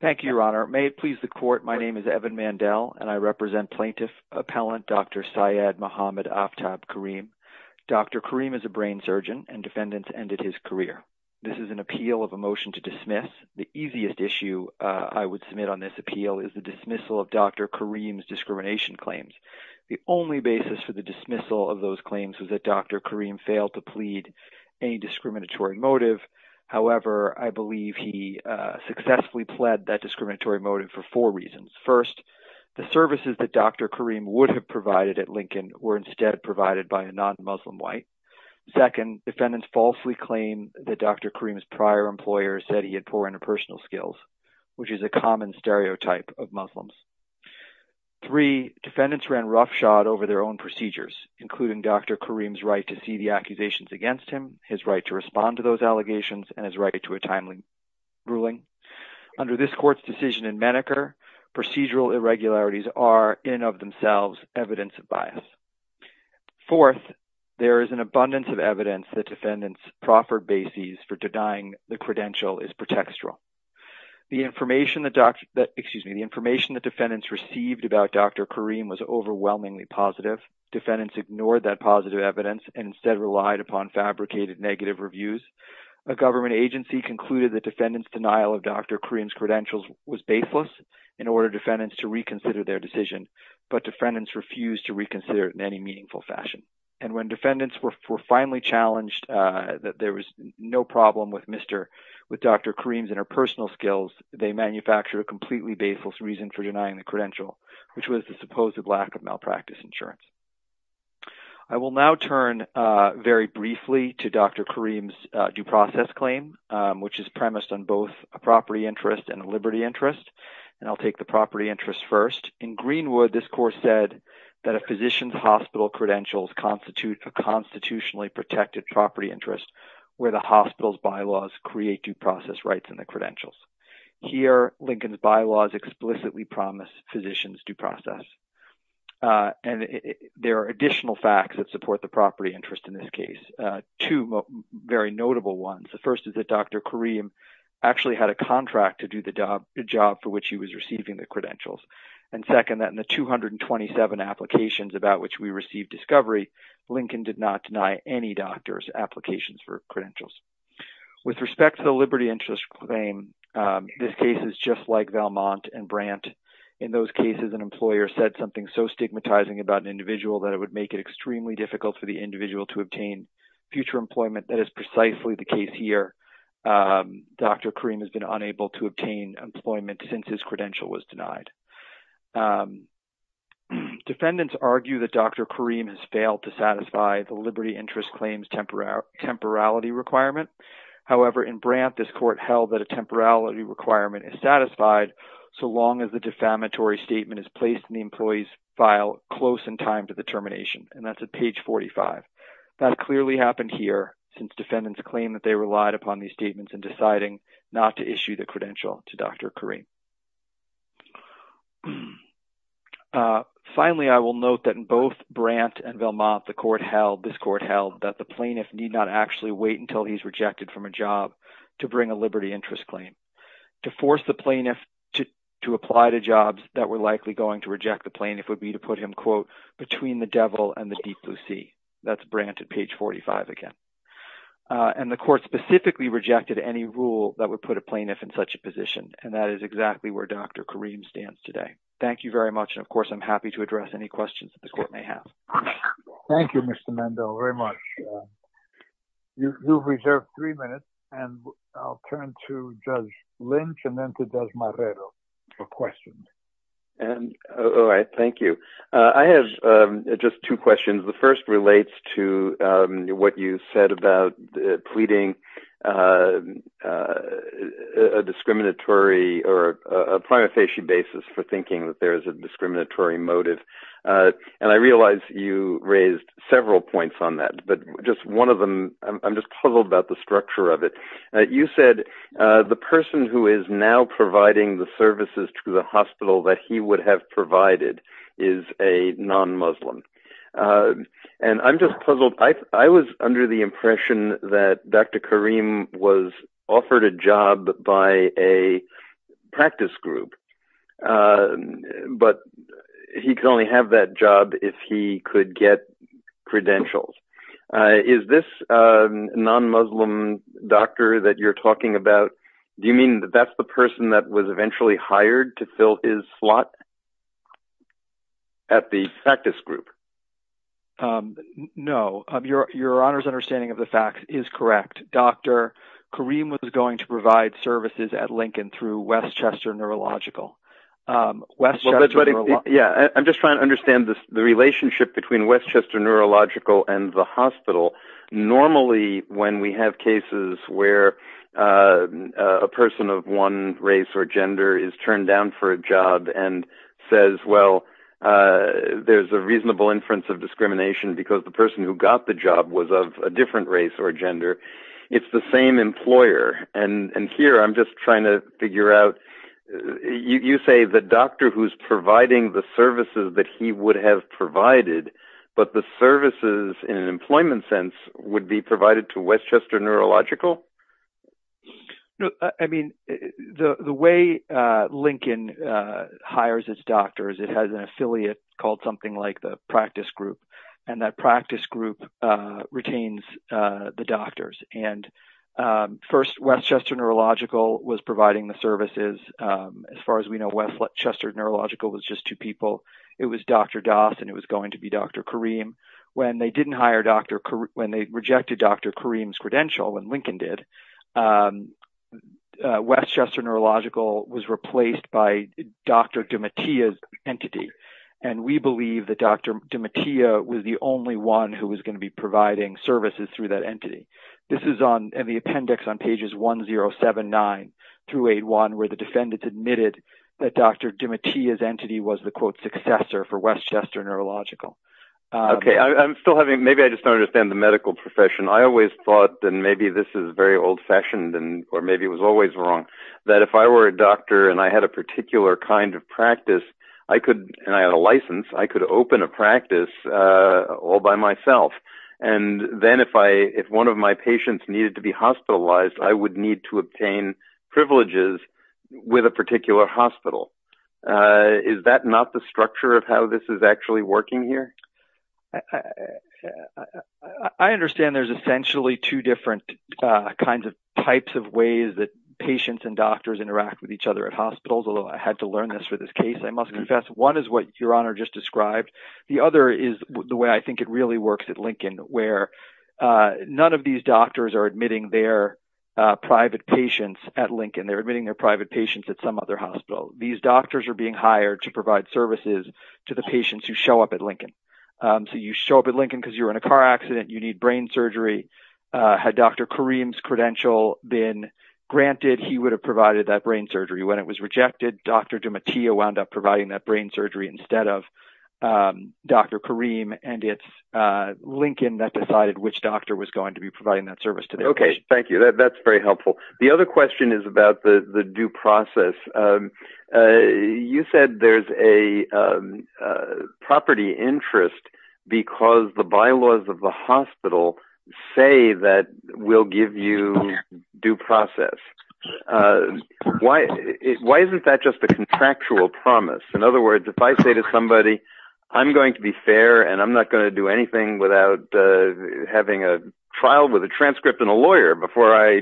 Thank you, Your Honor. May it please the Court, my name is Evan Mandel, and I represent Plaintiff-Appellant Dr. Syed Mohammed Aftab Karim. Dr. Karim is a brain surgeon, and defendants ended his career. This is an appeal of a motion to dismiss. The easiest issue I would submit on this appeal is the dismissal of Dr. Karim's discrimination claims. The only basis for the dismissal of those claims was that Dr. Karim failed to plead any discriminatory motive. However, I believe he successfully pled that discriminatory motive for four reasons. First, the services that Dr. Karim would have provided at Lincoln were instead provided by a non-Muslim white. Second, defendants falsely claimed that Dr. Karim's prior employer said he had poor interpersonal skills, which is a common stereotype of Muslims. Three, defendants ran roughshod over their own procedures, including Dr. Karim's right to see the accusations against him, his right to respond to those allegations, and his right to a timely ruling. Under this Court's decision in Maneker, procedural irregularities are, in and of themselves, evidence of bias. Fourth, there is an abundance of evidence that defendants' proffered bases for denying the credential is pretextual. The information that defendants received about Dr. Karim was overwhelmingly positive. Defendants ignored that positive evidence and instead relied upon fabricated negative reviews. A government agency concluded that defendants' denial of Dr. Karim's credentials was baseless in order for defendants to reconsider their decision, but defendants refused to reconsider it in any meaningful fashion. And when defendants were finally challenged that there was no problem with Dr. Karim's interpersonal skills, they manufactured a completely baseless reason for denying the credential, which was the supposed lack of malpractice insurance. I will now turn very briefly to Dr. Karim's due process claim, which is premised on both a property interest and a liberty interest, and I'll take the property interest first. In Greenwood, this Court said that a physician's hospital credentials constitute a constitutionally protected property interest where the hospital's bylaws create due process rights in the credentials. Here, Lincoln's bylaws explicitly promise physicians due process, and there are additional facts that support the property interest in this case. Two very notable ones. The first is that Dr. Karim actually had a contract to do the job for which he was receiving the credentials, and second, that in the 227 applications about which we received discovery, Lincoln did not deny any doctor's applications for credentials. With respect to the liberty interest claim, this case is just like Valmont and Brandt. In those cases, an employer said something so stigmatizing about an individual that it would make it extremely difficult for the individual to obtain future employment. That is precisely the case here. Dr. Karim has been unable to obtain employment since his credential was denied. Defendants argue that Dr. Karim has failed to satisfy the liberty interest claim's temporality requirement. However, in Brandt, this Court held that a temporality requirement is satisfied so long as the defamatory statement is placed in the employee's file close in time to the termination, and that's at page 45. That clearly happened here, since defendants claim that they relied upon these statements in deciding not to issue the credential to Dr. Karim. Finally, I will note that in both Brandt and Valmont, this Court held that the plaintiff need not actually wait until he's rejected from a job to bring a liberty interest claim. To force the plaintiff to apply to jobs that were likely going to reject the plaintiff would be to put him, quote, between the devil and the deep blue sea. That's Brandt at page 45 again. And the Court specifically rejected any rule that would put a plaintiff in such a position, and that is exactly where Dr. Karim stands today. Thank you very much, and of course I'm happy to address any questions that the Court may have. Thank you, Mr. Mendel, very much. You've reserved three minutes, and I'll turn to Judge Lynch and then to Judge Marrero for questions. All right, thank you. I have just two questions. The first relates to what you said about pleading a discriminatory or a prima facie basis for thinking that there is a discriminatory motive. And I realize you raised several points on that, but just one of them, I'm just puzzled about the structure of it. You said the person who is now providing the services to the hospital that he would have provided is a non-Muslim. And I'm just puzzled. I was under the impression that Dr. Karim was offered a job by a practice group, but he could only have that job if he could get credentials. Is this non-Muslim doctor that you're talking about, do you mean that that's the person that was eventually hired to fill his slot at the practice group? No. Your Honor's understanding of the facts is correct. Dr. Karim was going to provide services at Lincoln through Westchester Neurological. I'm just trying to understand the relationship between Westchester Neurological and the hospital. Normally, when we have cases where a person of one race or gender is turned down for a job and says, well, there's a reasonable inference of discrimination because the person who got the job was of a different race or gender. It's the same employer. And here I'm just trying to figure out, you say the doctor who's providing the services that he would have provided, but the services in an employment sense would be provided to Westchester Neurological? I mean, the way Lincoln hires its doctors, it has an affiliate called something like the practice group and that practice group retains the doctors. And first, Westchester Neurological was providing the services. As far as we know, Westchester Neurological was just two people. It was Dr. Doss and it was going to be Dr. Karim. When they didn't hire Dr. Karim, when they rejected Dr. Karim's credential and Lincoln did, Westchester Neurological was replaced by Dr. Demetia's entity. And we believe that Dr. Demetia was the only one who was going to be providing services through that entity. This is on the appendix on pages 1079 through 81 where the defendants admitted that Dr. Demetia's entity was the quote successor for Westchester Neurological. Okay, I'm still having, maybe I just don't understand the medical profession. I always thought, and maybe this is very old fashioned, or maybe it was always wrong, that if I were a doctor and I had a particular kind of practice, and I had a license, I could open a practice all by myself. And then if one of my patients needed to be hospitalized, I would need to obtain privileges with a particular hospital. Is that not the structure of how this is actually working here? I understand there's essentially two different kinds of types of ways that patients and doctors interact with each other at hospitals, although I had to learn this for this case, I must confess. One is what Your Honor just described. The other is the way I think it really works at Lincoln, where none of these doctors are admitting their private patients at Lincoln. They're admitting their private patients at some other hospital. These doctors are being hired to provide services to the patients who show up at Lincoln. So you show up at Lincoln because you're in a car accident, you need brain surgery. Had Dr. Kareem's credential been granted, he would have provided that brain surgery. When it was rejected, Dr. Demetia wound up providing that brain surgery instead of Dr. Kareem, and it's Lincoln that decided which doctor was going to be providing that service to their patients. Thank you. That's very helpful. The other question is about the due process. You said there's a property interest because the bylaws of the hospital say that we'll give you due process. Why isn't that just a contractual promise? In other words, if I say to somebody, I'm going to be fair and I'm not going to do anything without having a trial with a transcript and a lawyer before I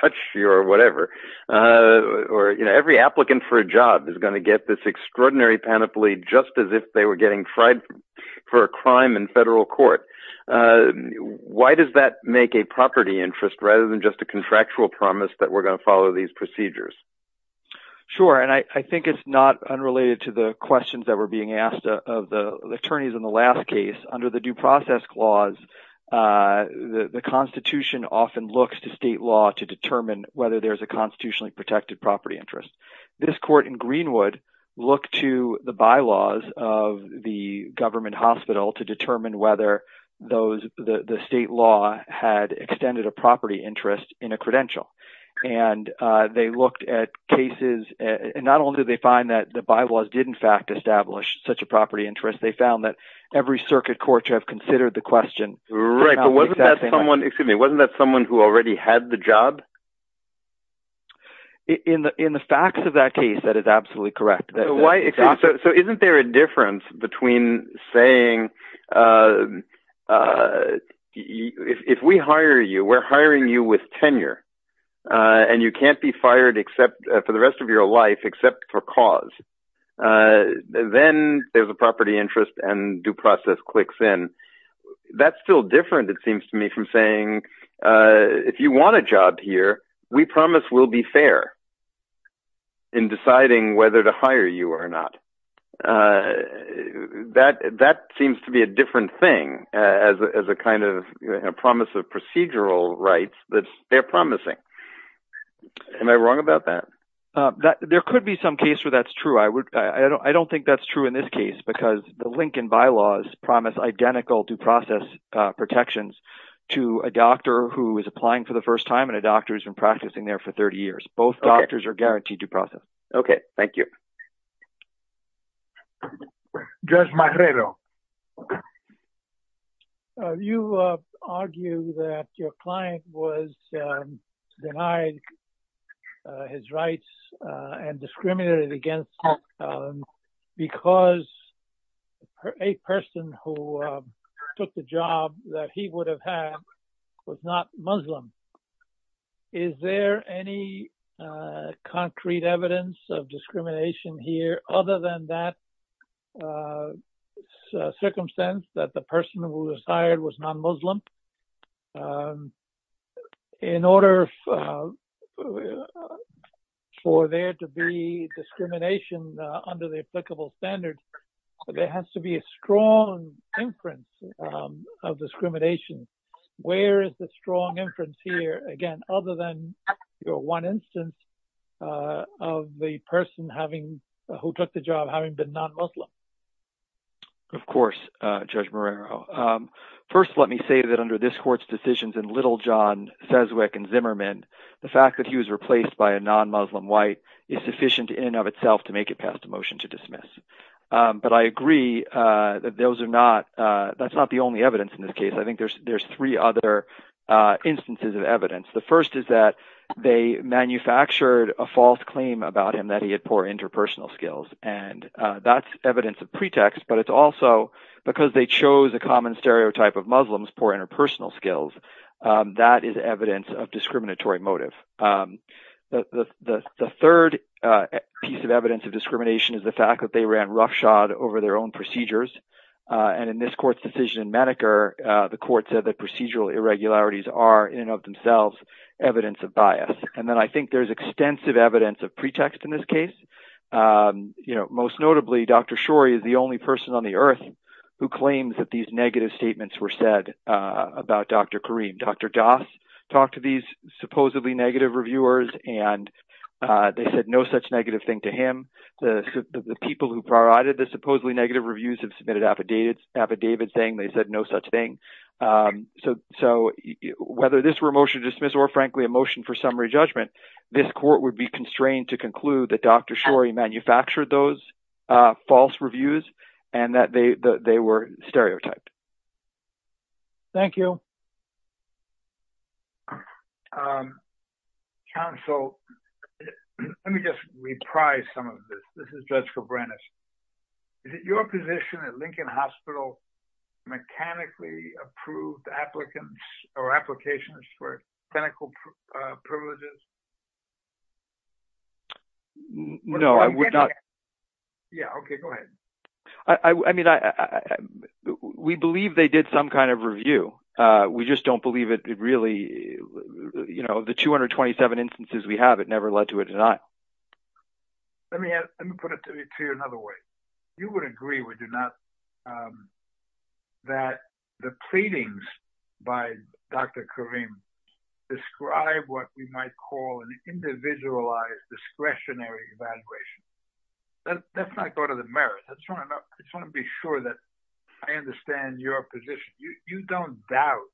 touch you or whatever, or every applicant for a job is going to get this extraordinary panoply just as if they were getting tried for a crime in federal court. Why does that make a property interest rather than just a contractual promise that we're going to follow these procedures? Sure, and I think it's not unrelated to the questions that were being asked of the attorneys in the last case. Under the due process clause, the Constitution often looks to state law to determine whether there's a constitutionally protected property interest. This court in Greenwood looked to the bylaws of the government hospital to determine whether the state law had extended a property interest in a credential, and not only did they find that the bylaws did in fact establish such a property interest, they found that every circuit court should have considered the question. Wasn't that someone who already had the job? In the facts of that case, that is absolutely correct. So isn't there a difference between saying, if we hire you, we're hiring you with tenure, and you can't be fired for the rest of your life except for cause, then there's a property interest and due process clicks in. That's still different, it seems to me, from saying, if you want a job here, we promise we'll be fair in deciding whether to hire you or not. That seems to be a different thing as a kind of promise of procedural rights that they're promising. Am I wrong about that? There could be some case where that's true. I don't think that's true in this case, because the Lincoln bylaws promise identical due process protections to a doctor who is applying for the first time, and a doctor who's been practicing there for 30 years. Both doctors are guaranteed due process. Okay, thank you. Judge Marrero. You argue that your client was denied his rights and discriminated against because a person who took the job that he would have had was not Muslim. Is there any concrete evidence of discrimination here other than that circumstance that the person who was hired was non-Muslim? In order for there to be discrimination under the applicable standards, there has to be a strong inference of discrimination. Where is the strong inference here, again, other than your one instance of the person who took the job having been non-Muslim? Of course, Judge Marrero. First, let me say that under this court's decisions in Little, John, Seswick, and Zimmerman, the fact that he was replaced by a non-Muslim white is sufficient in and of itself to make it past the motion to dismiss. But I agree that that's not the only evidence in this case. I think there's three other instances of evidence. The first is that they manufactured a false claim about him that he had poor interpersonal skills. And that's evidence of pretext, but it's also because they chose a common stereotype of Muslims' poor interpersonal skills. That is evidence of discriminatory motive. The third piece of evidence of discrimination is the fact that they ran roughshod over their own procedures. And in this court's decision in Maneker, the court said that procedural irregularities are in and of themselves evidence of bias. And then I think there's extensive evidence of pretext in this case. Most notably, Dr. Shorey is the only person on the earth who claims that these negative statements were said about Dr. Karim. Dr. Doss talked to these supposedly negative reviewers, and they said no such negative thing to him. The people who provided the supposedly negative reviews have submitted affidavits saying they said no such thing. So whether this were a motion to dismiss or, frankly, a motion for summary judgment, this court would be constrained to conclude that Dr. Shorey manufactured those false reviews and that they were stereotyped. Thank you. Counsel, let me just reprise some of this. This is Judge Kobranich. Is it your position that Lincoln Hospital mechanically approved applicants or applications for clinical privileges? No, I would not. Yeah, okay, go ahead. I mean, we believe they did some kind of review. We just don't believe it really, you know, the 227 instances we have, it never led to a denial. Let me put it to you another way. You would agree, would you not, that the pleadings by Dr. Karim describe what we might call an individualized discretionary evaluation. Let's not go to the merits. I just want to be sure that I understand your position. You don't doubt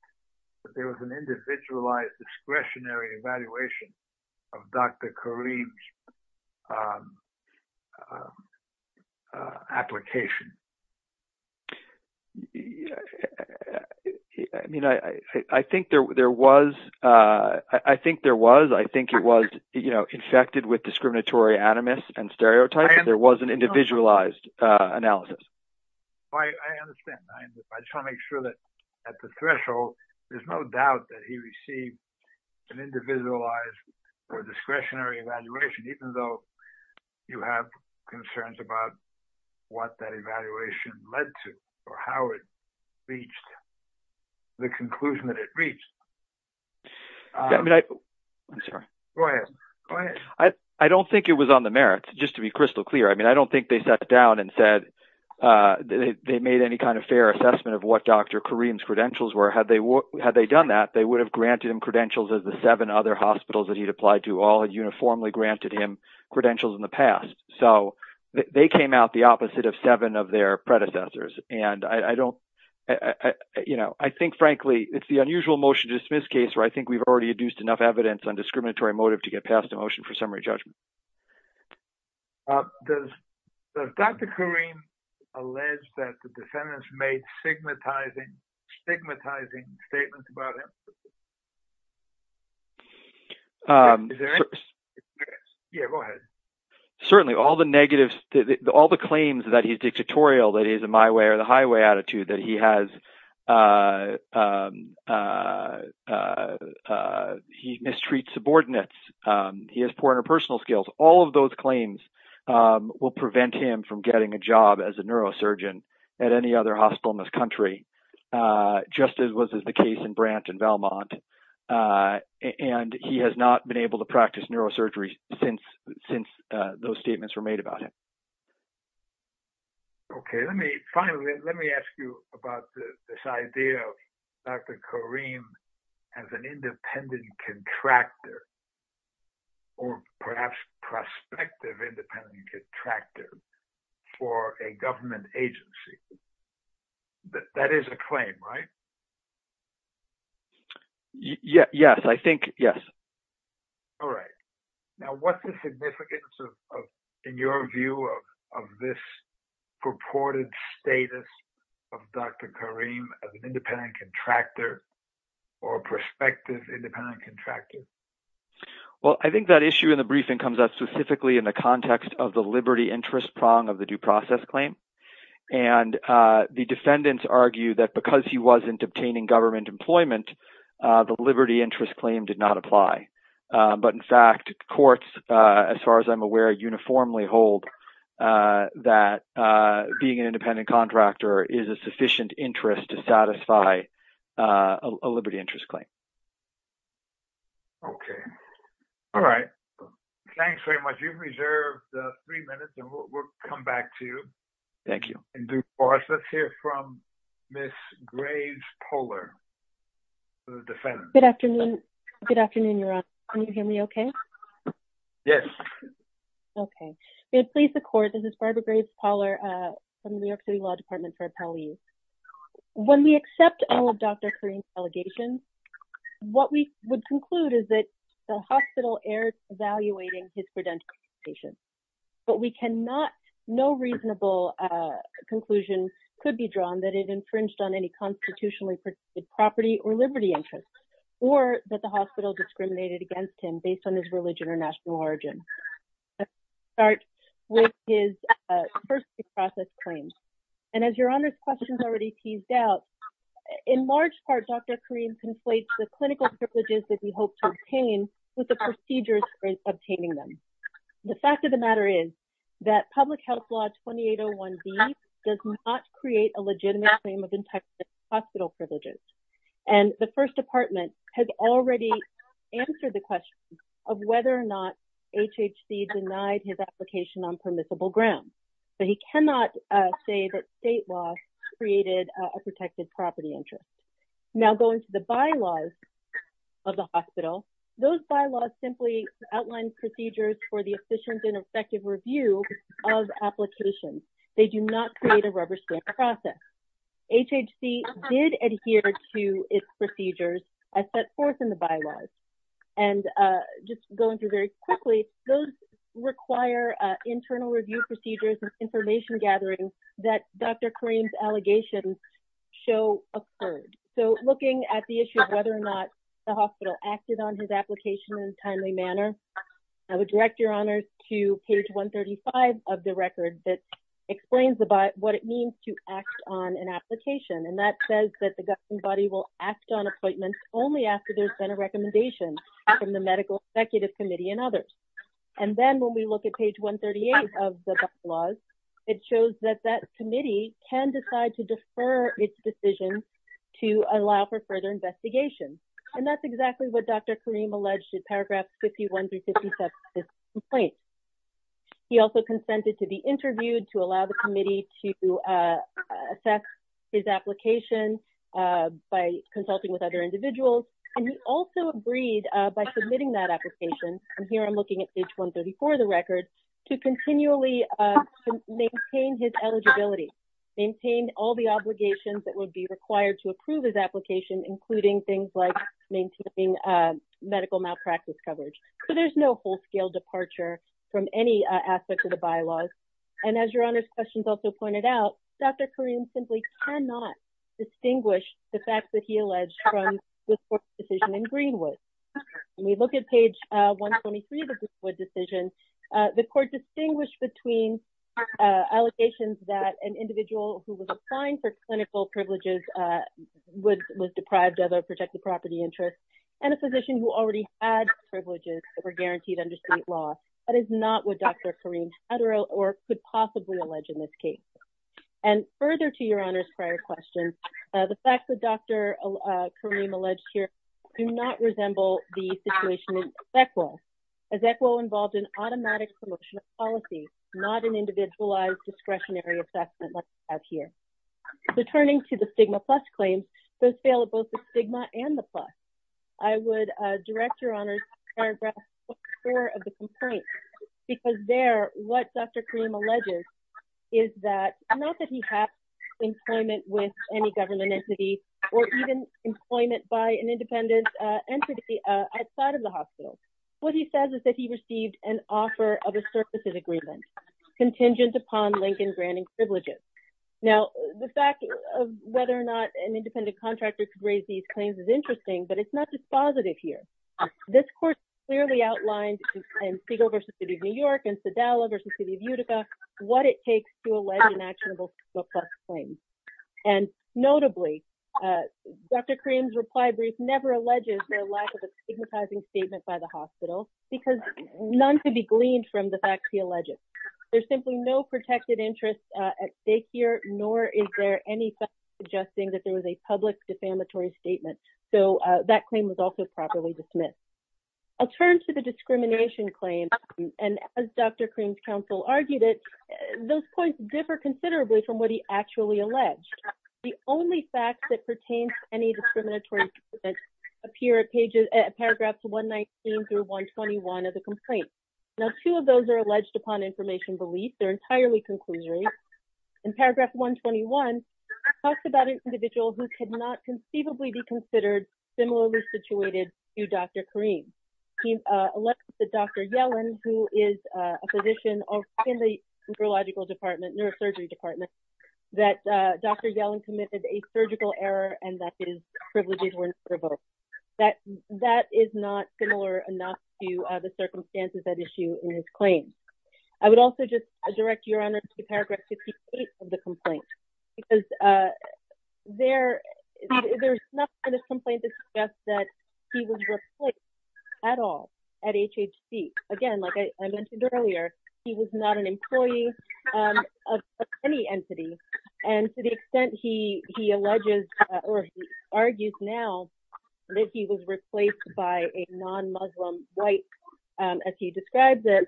that there was an individualized discretionary evaluation of Dr. Karim's application? I mean, I think there was. I think it was, you know, infected with discriminatory animus and stereotypes. There was an individualized analysis. I understand. I just want to make sure that at the threshold, there's no doubt that he received an individualized or discretionary evaluation, even though you have concerns about what that evaluation led to or how it reached the conclusion that it reached. I mean, I'm sorry. Go ahead. I don't think it was on the merits, just to be crystal clear. I mean, I don't think they sat down and said they made any kind of fair assessment of what Dr. Karim's credentials were. Had they done that, they would have granted him credentials as the seven other hospitals that he'd applied to all had uniformly granted him credentials in the past. They came out the opposite of seven of their predecessors. I think, frankly, it's the unusual motion to dismiss case where I think we've already induced enough evidence on discriminatory motive to get passed a motion for summary judgment. Does Dr. Karim allege that the defendants made stigmatizing statements about him? Yeah, go ahead. Certainly, all the claims that he's dictatorial, that he's a my way or the highway attitude, that he mistreats subordinates, he has poor interpersonal skills, all of those claims will prevent him from getting a job as a neurosurgeon at any other hospital in this country. Just as was the case in Brant and Belmont, and he has not been able to practice neurosurgery since those statements were made about him. Okay, let me finally let me ask you about this idea of Dr. Karim as an independent contractor or perhaps prospective independent contractor for a government agency. That is a claim, right? Yes, I think, yes. All right. Now, what's the significance of, in your view, of this purported status of Dr. Karim as an independent contractor or prospective independent contractor? Well, I think that issue in the briefing comes up specifically in the context of the liberty interest prong of the due process claim. And the defendants argue that because he wasn't obtaining government employment, the liberty interest claim did not apply. But in fact, courts, as far as I'm aware, uniformly hold that being an independent contractor is a sufficient interest to satisfy a liberty interest claim. Okay. All right. Thanks very much. You've reserved three minutes and we'll come back to you. Thank you. Let's hear from Ms. Graves-Poller, the defendant. Good afternoon. Good afternoon, Your Honor. Can you hear me okay? Yes. Okay. We have placed the court. This is Barbara Graves-Poller from the New York City Law Department for appellees. When we accept all of Dr. Karim's allegations, what we would conclude is that the hospital erred evaluating his credential application. But we cannot, no reasonable conclusion could be drawn that it infringed on any constitutionally protected property or liberty interest, or that the hospital discriminated against him based on his religion or national origin. We'll start with his first pre-process claims. And as Your Honor's questions already teased out, in large part, Dr. Karim conflates the clinical privileges that he hoped to obtain with the procedures for obtaining them. The fact of the matter is that public health law 2801B does not create a legitimate claim of in-patient hospital privileges. And the First Department has already answered the question of whether or not HHC denied his application on permissible grounds. But he cannot say that state law created a protected property interest. Now going to the bylaws of the hospital, those bylaws simply outline procedures for the efficient and effective review of applications. They do not create a rubber stamp process. HHC did adhere to its procedures as set forth in the bylaws. And just going through very quickly, those require internal review procedures and information gathering that Dr. Karim's allegations show occurred. So looking at the issue of whether or not the hospital acted on his application in a timely manner, I would direct Your Honor to page 135 of the record that explains what it means to act on an application. And that says that the governing body will act on appointments only after there's been a recommendation from the Medical Executive Committee and others. And then when we look at page 138 of the bylaws, it shows that that committee can decide to defer its decision to allow for further investigation. And that's exactly what Dr. Karim alleged in paragraph 51 through 57 of this complaint. He also consented to be interviewed to allow the committee to assess his application by consulting with other individuals. And he also agreed by submitting that application, and here I'm looking at page 134 of the record, to continually maintain his eligibility, maintain all the obligations that would be required to approve his application, including things like maintaining medical malpractice coverage. So there's no whole-scale departure from any aspect of the bylaws. And as Your Honor's questions also pointed out, Dr. Karim simply cannot distinguish the fact that he alleged from this court's decision in Greenwood. When we look at page 123 of the Greenwood decision, the court distinguished between allegations that an individual who was assigned for clinical privileges was deprived of a protected property interest, and a physician who already had privileges that were guaranteed under state law. That is not what Dr. Karim had or could possibly allege in this case. And further to Your Honor's prior question, the facts that Dr. Karim alleged here do not resemble the situation in ECWO. As ECWO involved an automatic promotion of policy, not an individualized discretionary assessment like we have here. So turning to the stigma plus claims, those fail at both the stigma and the plus. I would direct Your Honor's paragraph 4 of the complaint, because there, what Dr. Karim alleges is that, not that he had employment with any government entity, or even employment by an independent entity outside of the hospital. What he says is that he received an offer of a surplus of agreement contingent upon Lincoln granting privileges. Now, the fact of whether or not an independent contractor could raise these claims is interesting, but it's not dispositive here. This court clearly outlined in Siegel v. City of New York and Sadala v. City of Utica, what it takes to allege an actionable stigma plus claim. And notably, Dr. Karim's reply brief never alleges the lack of a stigmatizing statement by the hospital, because none could be gleaned from the facts he alleges. There's simply no protected interest at stake here, nor is there any fact suggesting that there was a public defamatory statement. So that claim was also properly dismissed. I'll turn to the discrimination claim, and as Dr. Karim's counsel argued it, those points differ considerably from what he actually alleged. The only facts that pertain to any discriminatory statement appear at paragraphs 119 through 121 of the complaint. Now, two of those are alleged upon information belief. They're entirely conclusory. In paragraph 121, it talks about an individual who could not conceivably be considered similarly situated to Dr. Karim. He alleges that Dr. Yellen, who is a physician in the neurological department, neurosurgery department, that Dr. Yellen committed a surgical error and that his privileges were not revoked. That is not similar enough to the circumstances at issue in his claim. I would also just direct Your Honor to paragraph 58 of the complaint, because there's nothing in the complaint that suggests that he was replaced at all at HHC. Again, like I mentioned earlier, he was not an employee of any entity. And to the extent he alleges or argues now that he was replaced by a non-Muslim white, as he describes it,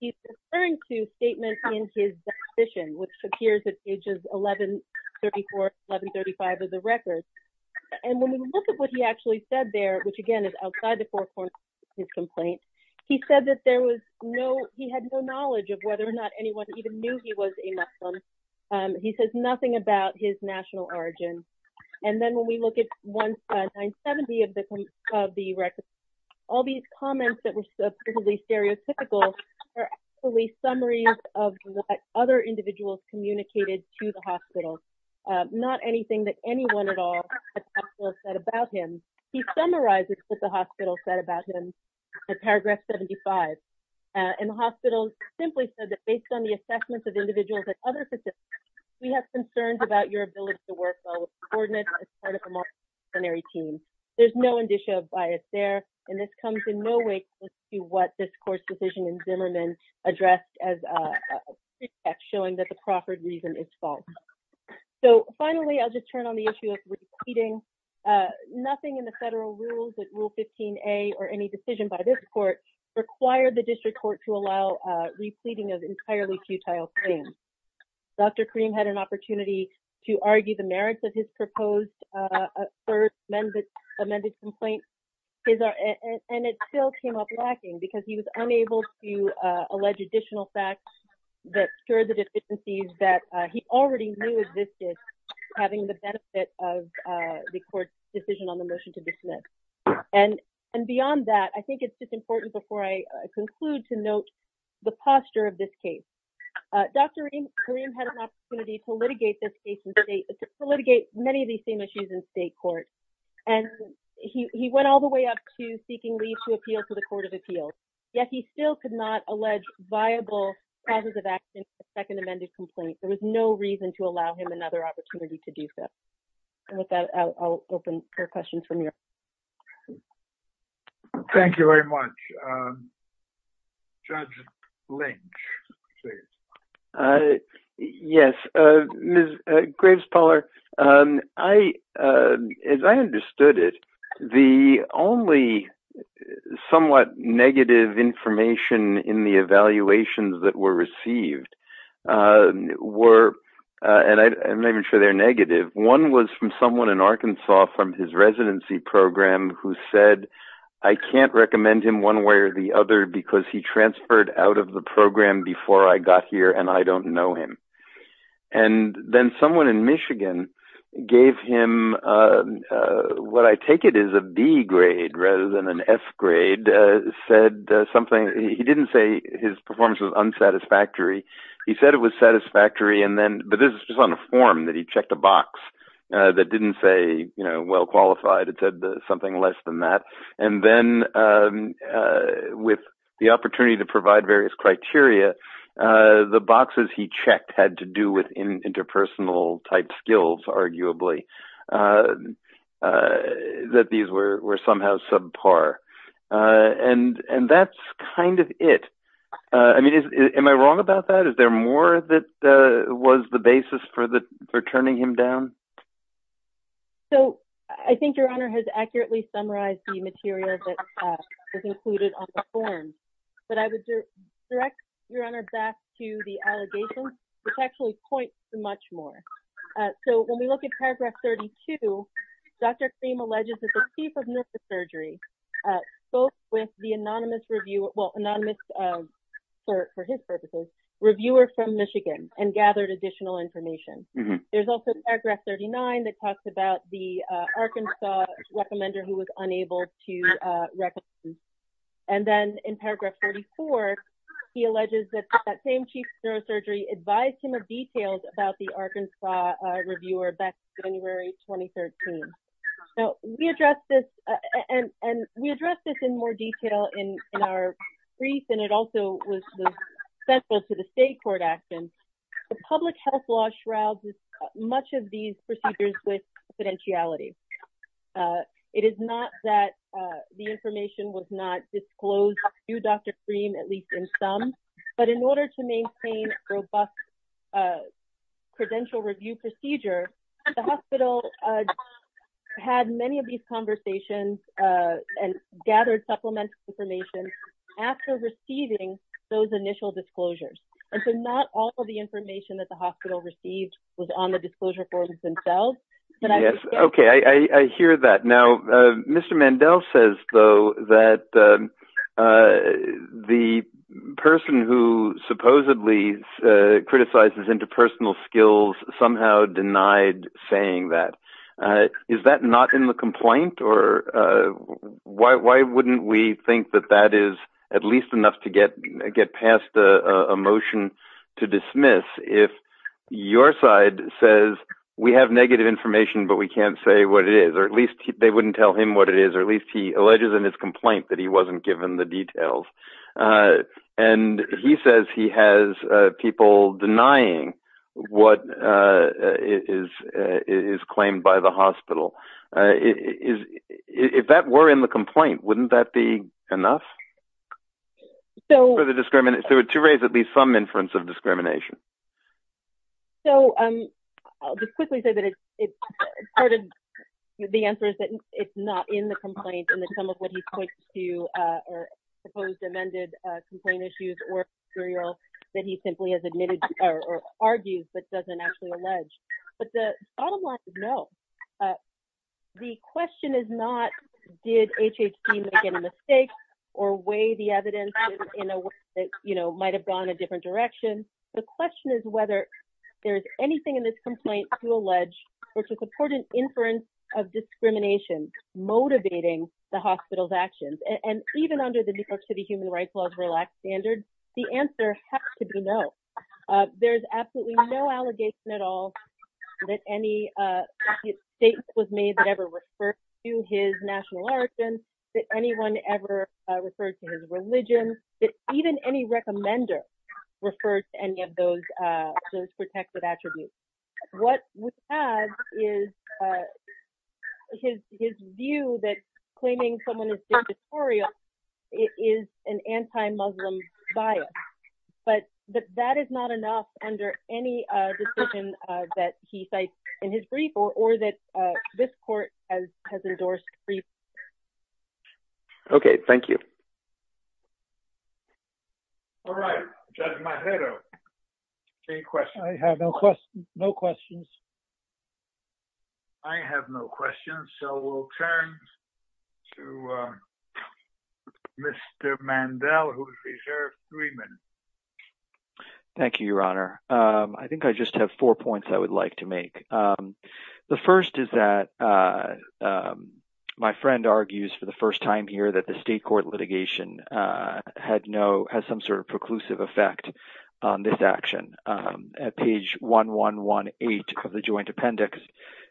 he's referring to statements in his decision, which appears at pages 1134, 1135 of the record. And when we look at what he actually said there, which again is outside the four corners of his complaint, he said that he had no knowledge of whether or not anyone even knew he was a Muslim. He says nothing about his national origin. And then when we look at 970 of the record, all these comments that were supposedly stereotypical are actually summaries of what other individuals communicated to the hospital. Not anything that anyone at all at the hospital said about him. He summarizes what the hospital said about him in paragraph 75. And the hospital simply said that based on the assessments of individuals at other facilities, we have concerns about your ability to work well with coordinators as part of a multidisciplinary team. There's no indicia of bias there, and this comes in no way close to what this court's decision in Zimmerman addressed as a pretext showing that the Crawford reason is false. So finally, I'll just turn on the issue of repleating. Nothing in the federal rules, Rule 15A or any decision by this court required the district court to allow repleting of entirely futile claims. Dr. Kareem had an opportunity to argue the merits of his proposed third amended complaint. And it still came up lacking because he was unable to allege additional facts that secure the deficiencies that he already knew existed, having the benefit of the court's decision on the motion to dismiss. And beyond that, I think it's just important before I conclude to note the posture of this case. Dr. Kareem had an opportunity to litigate many of these same issues in state court. And he went all the way up to seeking leave to appeal to the Court of Appeals. Yet he still could not allege viable causes of action for the second amended complaint. There was no reason to allow him another opportunity to do so. And with that, I'll open for questions from you. Thank you very much. Judge Lynch, please. Yes, Ms. Graves-Pawler. As I understood it, the only somewhat negative information in the evaluations that were received were, and I'm not even sure they're negative. One was from someone in Arkansas from his residency program who said, I can't recommend him one way or the other because he transferred out of the program before I got here and I don't know him. And then someone in Michigan gave him, what I take it is a B grade rather than an F grade, said something. He didn't say his performance was unsatisfactory. He said it was satisfactory. But this is just on a form that he checked a box that didn't say, you know, well qualified. It said something less than that. And then with the opportunity to provide various criteria, the boxes he checked had to do with interpersonal type skills, arguably. That these were somehow subpar. And that's kind of it. I mean, am I wrong about that? Is there more that was the basis for turning him down? So, I think Your Honor has accurately summarized the material that was included on the form. But I would direct Your Honor back to the allegations, which actually point to much more. So, when we look at paragraph 32, Dr. Cream alleges that the chief of neurosurgery spoke with the anonymous reviewer, well anonymous for his purposes, reviewer from Michigan and gathered additional information. There's also paragraph 39 that talks about the Arkansas recommender who was unable to recommend. And then in paragraph 44, he alleges that that same chief of neurosurgery advised him of details about the Arkansas reviewer back in January 2013. So, we addressed this and we addressed this in more detail in our brief and it also was central to the state court action. The public health law shrouds much of these procedures with confidentiality. It is not that the information was not disclosed to Dr. Cream, at least in some. But in order to maintain a robust credential review procedure, the hospital had many of these conversations and gathered supplemental information after receiving those initial disclosures. And so, not all of the information that the hospital received was on the disclosure forms themselves. Okay, I hear that. Now, Mr. Mandel says though that the person who supposedly criticizes interpersonal skills somehow denied saying that. Is that not in the complaint? Or why wouldn't we think that that is at least enough to get past a motion to dismiss if your side says we have negative information, but we can't say what it is. Or at least they wouldn't tell him what it is. Or at least he alleges in his complaint that he wasn't given the details. And he says he has people denying what is claimed by the hospital. If that were in the complaint, wouldn't that be enough to raise at least some inference of discrimination? So, I'll just quickly say that the answer is that it's not in the complaint. And that some of what he points to are supposed amended complaint issues or material that he simply has admitted or argues but doesn't actually allege. But the bottom line is no. The question is not did HHG make any mistakes or weigh the evidence in a way that might have gone a different direction. The question is whether there is anything in this complaint to allege or to support an inference of discrimination motivating the hospital's actions. And even under the New York City Human Rights Laws relaxed standard, the answer has to be no. There's absolutely no allegation at all that any statement was made that ever referred to his national origin, that anyone ever referred to his religion, that even any recommender referred to any of those protected attributes. What we have is his view that claiming someone is dictatorial is an anti-Muslim bias. But that is not enough under any decision that he cites in his brief or that this court has endorsed. Okay, thank you. All right, Judge Majero, any questions? I have no questions. I have no questions, so we'll turn to Mr. Mandel, who has reserved three minutes. Thank you, Your Honor. I think I just have four points I would like to make. The first is that my friend argues for the first time here that the state court litigation has some sort of preclusive effect on this action. At page 1118 of the joint appendix,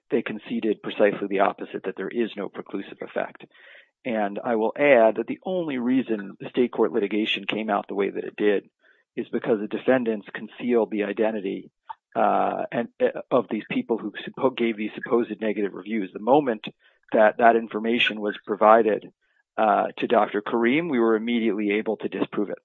they conceded precisely the opposite, that there is no preclusive effect. And I will add that the only reason the state court litigation came out the way that it did is because the defendants concealed the identity of these people who gave these supposed negative reviews. The moment that that information was provided to Dr. Karim, we were immediately able to disprove it.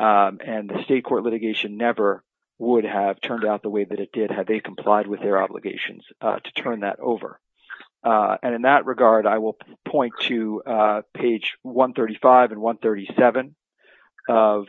And the state court litigation never would have turned out the way that it did had they complied with their obligations to turn that over. And in that regard, I will point to page 135 and 137 of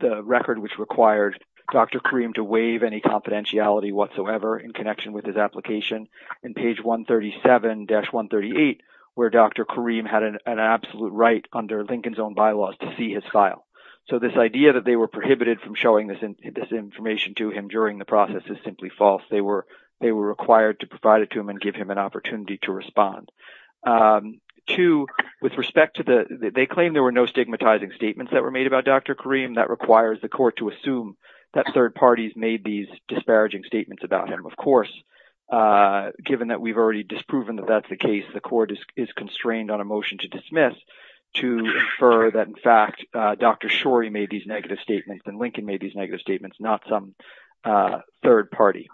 the record which required Dr. Karim to waive any confidentiality whatsoever in connection with his application. And page 137-138, where Dr. Karim had an absolute right under Lincoln's own bylaws to see his file. So this idea that they were prohibited from showing this information to him during the process is simply false. They were required to provide it to him and give him an opportunity to respond. Two, with respect to the – they claim there were no stigmatizing statements that were made about Dr. Karim. That requires the court to assume that third parties made these disparaging statements about him. Of course, given that we've already disproven that that's the case, the court is constrained on a motion to dismiss to infer that, in fact, Dr. Shorey made these negative statements and Lincoln made these negative statements, not some third party.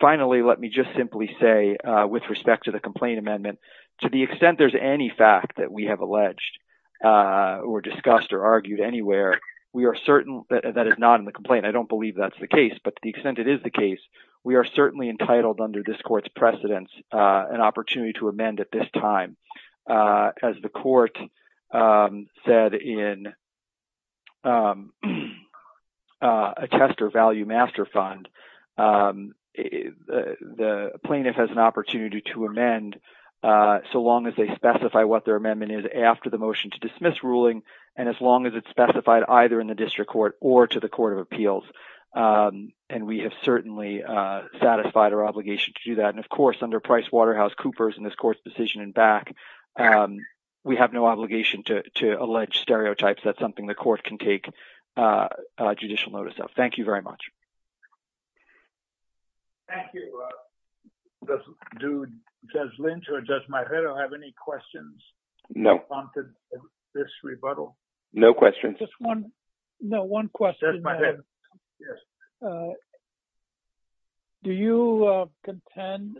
Finally, let me just simply say, with respect to the complaint amendment, to the extent there's any fact that we have alleged or discussed or argued anywhere, we are certain that it's not in the complaint. I don't believe that's the case, but to the extent it is the case, we are certainly entitled under this court's precedence an opportunity to amend at this time. As the court said in a test or value master fund, the plaintiff has an opportunity to amend so long as they specify what their amendment is after the motion to dismiss ruling and as long as it's specified either in the district court or to the court of appeals, and we have certainly satisfied our obligation to do that. Of course, under Price Waterhouse Cooper's and this court's decision in back, we have no obligation to allege stereotypes. That's something the court can take judicial notice of. Thank you very much. Thank you. Do Judge Lynch or Judge Marrero have any questions? No. No questions. No, one question. Yes. Do you contend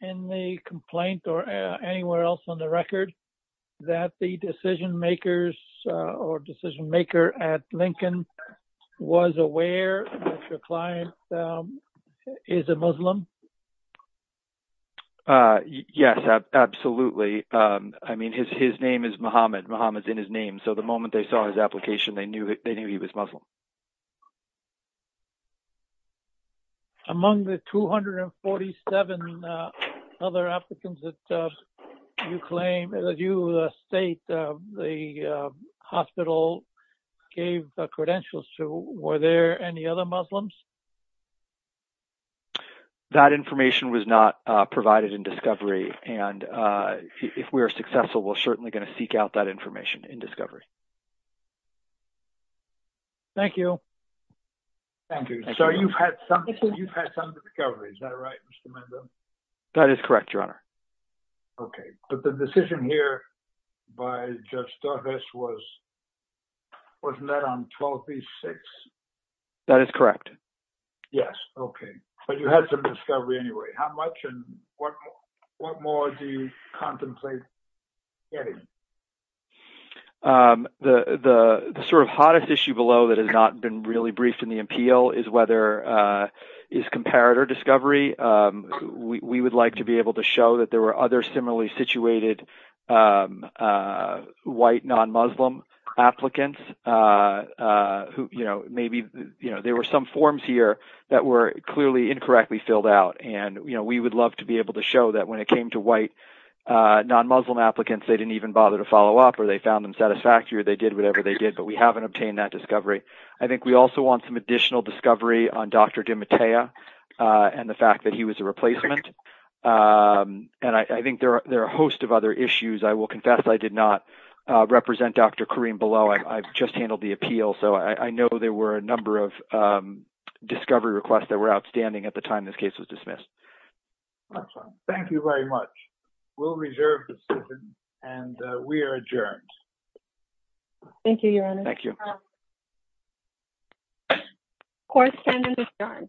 in the complaint or anywhere else on the record that the decision makers or decision maker at Lincoln was aware that your client is a Muslim? Yes, absolutely. I mean, his name is Muhammad. Muhammad's in his name, so the moment they saw his application, they knew he was Muslim. Among the 247 other applicants that you claim, that you state the hospital gave the credentials to, were there any other Muslims? That information was not provided in discovery, and if we are successful, we're certainly going to seek out that information in discovery. Thank you. Thank you. So, you've had some discovery, is that right, Mr. Mendoza? That is correct, Your Honor. Okay, but the decision here by Judge Torres was, wasn't that on 12B-6? That is correct. Yes, okay, but you had some discovery anyway. How much and what more do you contemplate getting? The sort of hottest issue below that has not been really briefed in the appeal is whether, is comparator discovery. We would like to be able to show that there were other similarly situated white non-Muslim applicants who, you know, maybe, you know, there were some forms here that were clearly incorrectly filled out. And, you know, we would love to be able to show that when it came to white non-Muslim applicants, they didn't even bother to follow up or they found them satisfactory or they did whatever they did, but we haven't obtained that discovery. I think we also want some additional discovery on Dr. DiMattea and the fact that he was a replacement, and I think there are a host of other issues. I will confess I did not represent Dr. Karim below. I've just handled the appeal, so I know there were a number of discovery requests that were outstanding at the time this case was dismissed. Thank you very much. We'll reserve the decision, and we are adjourned. Thank you, Your Honor. Thank you. Court is adjourned.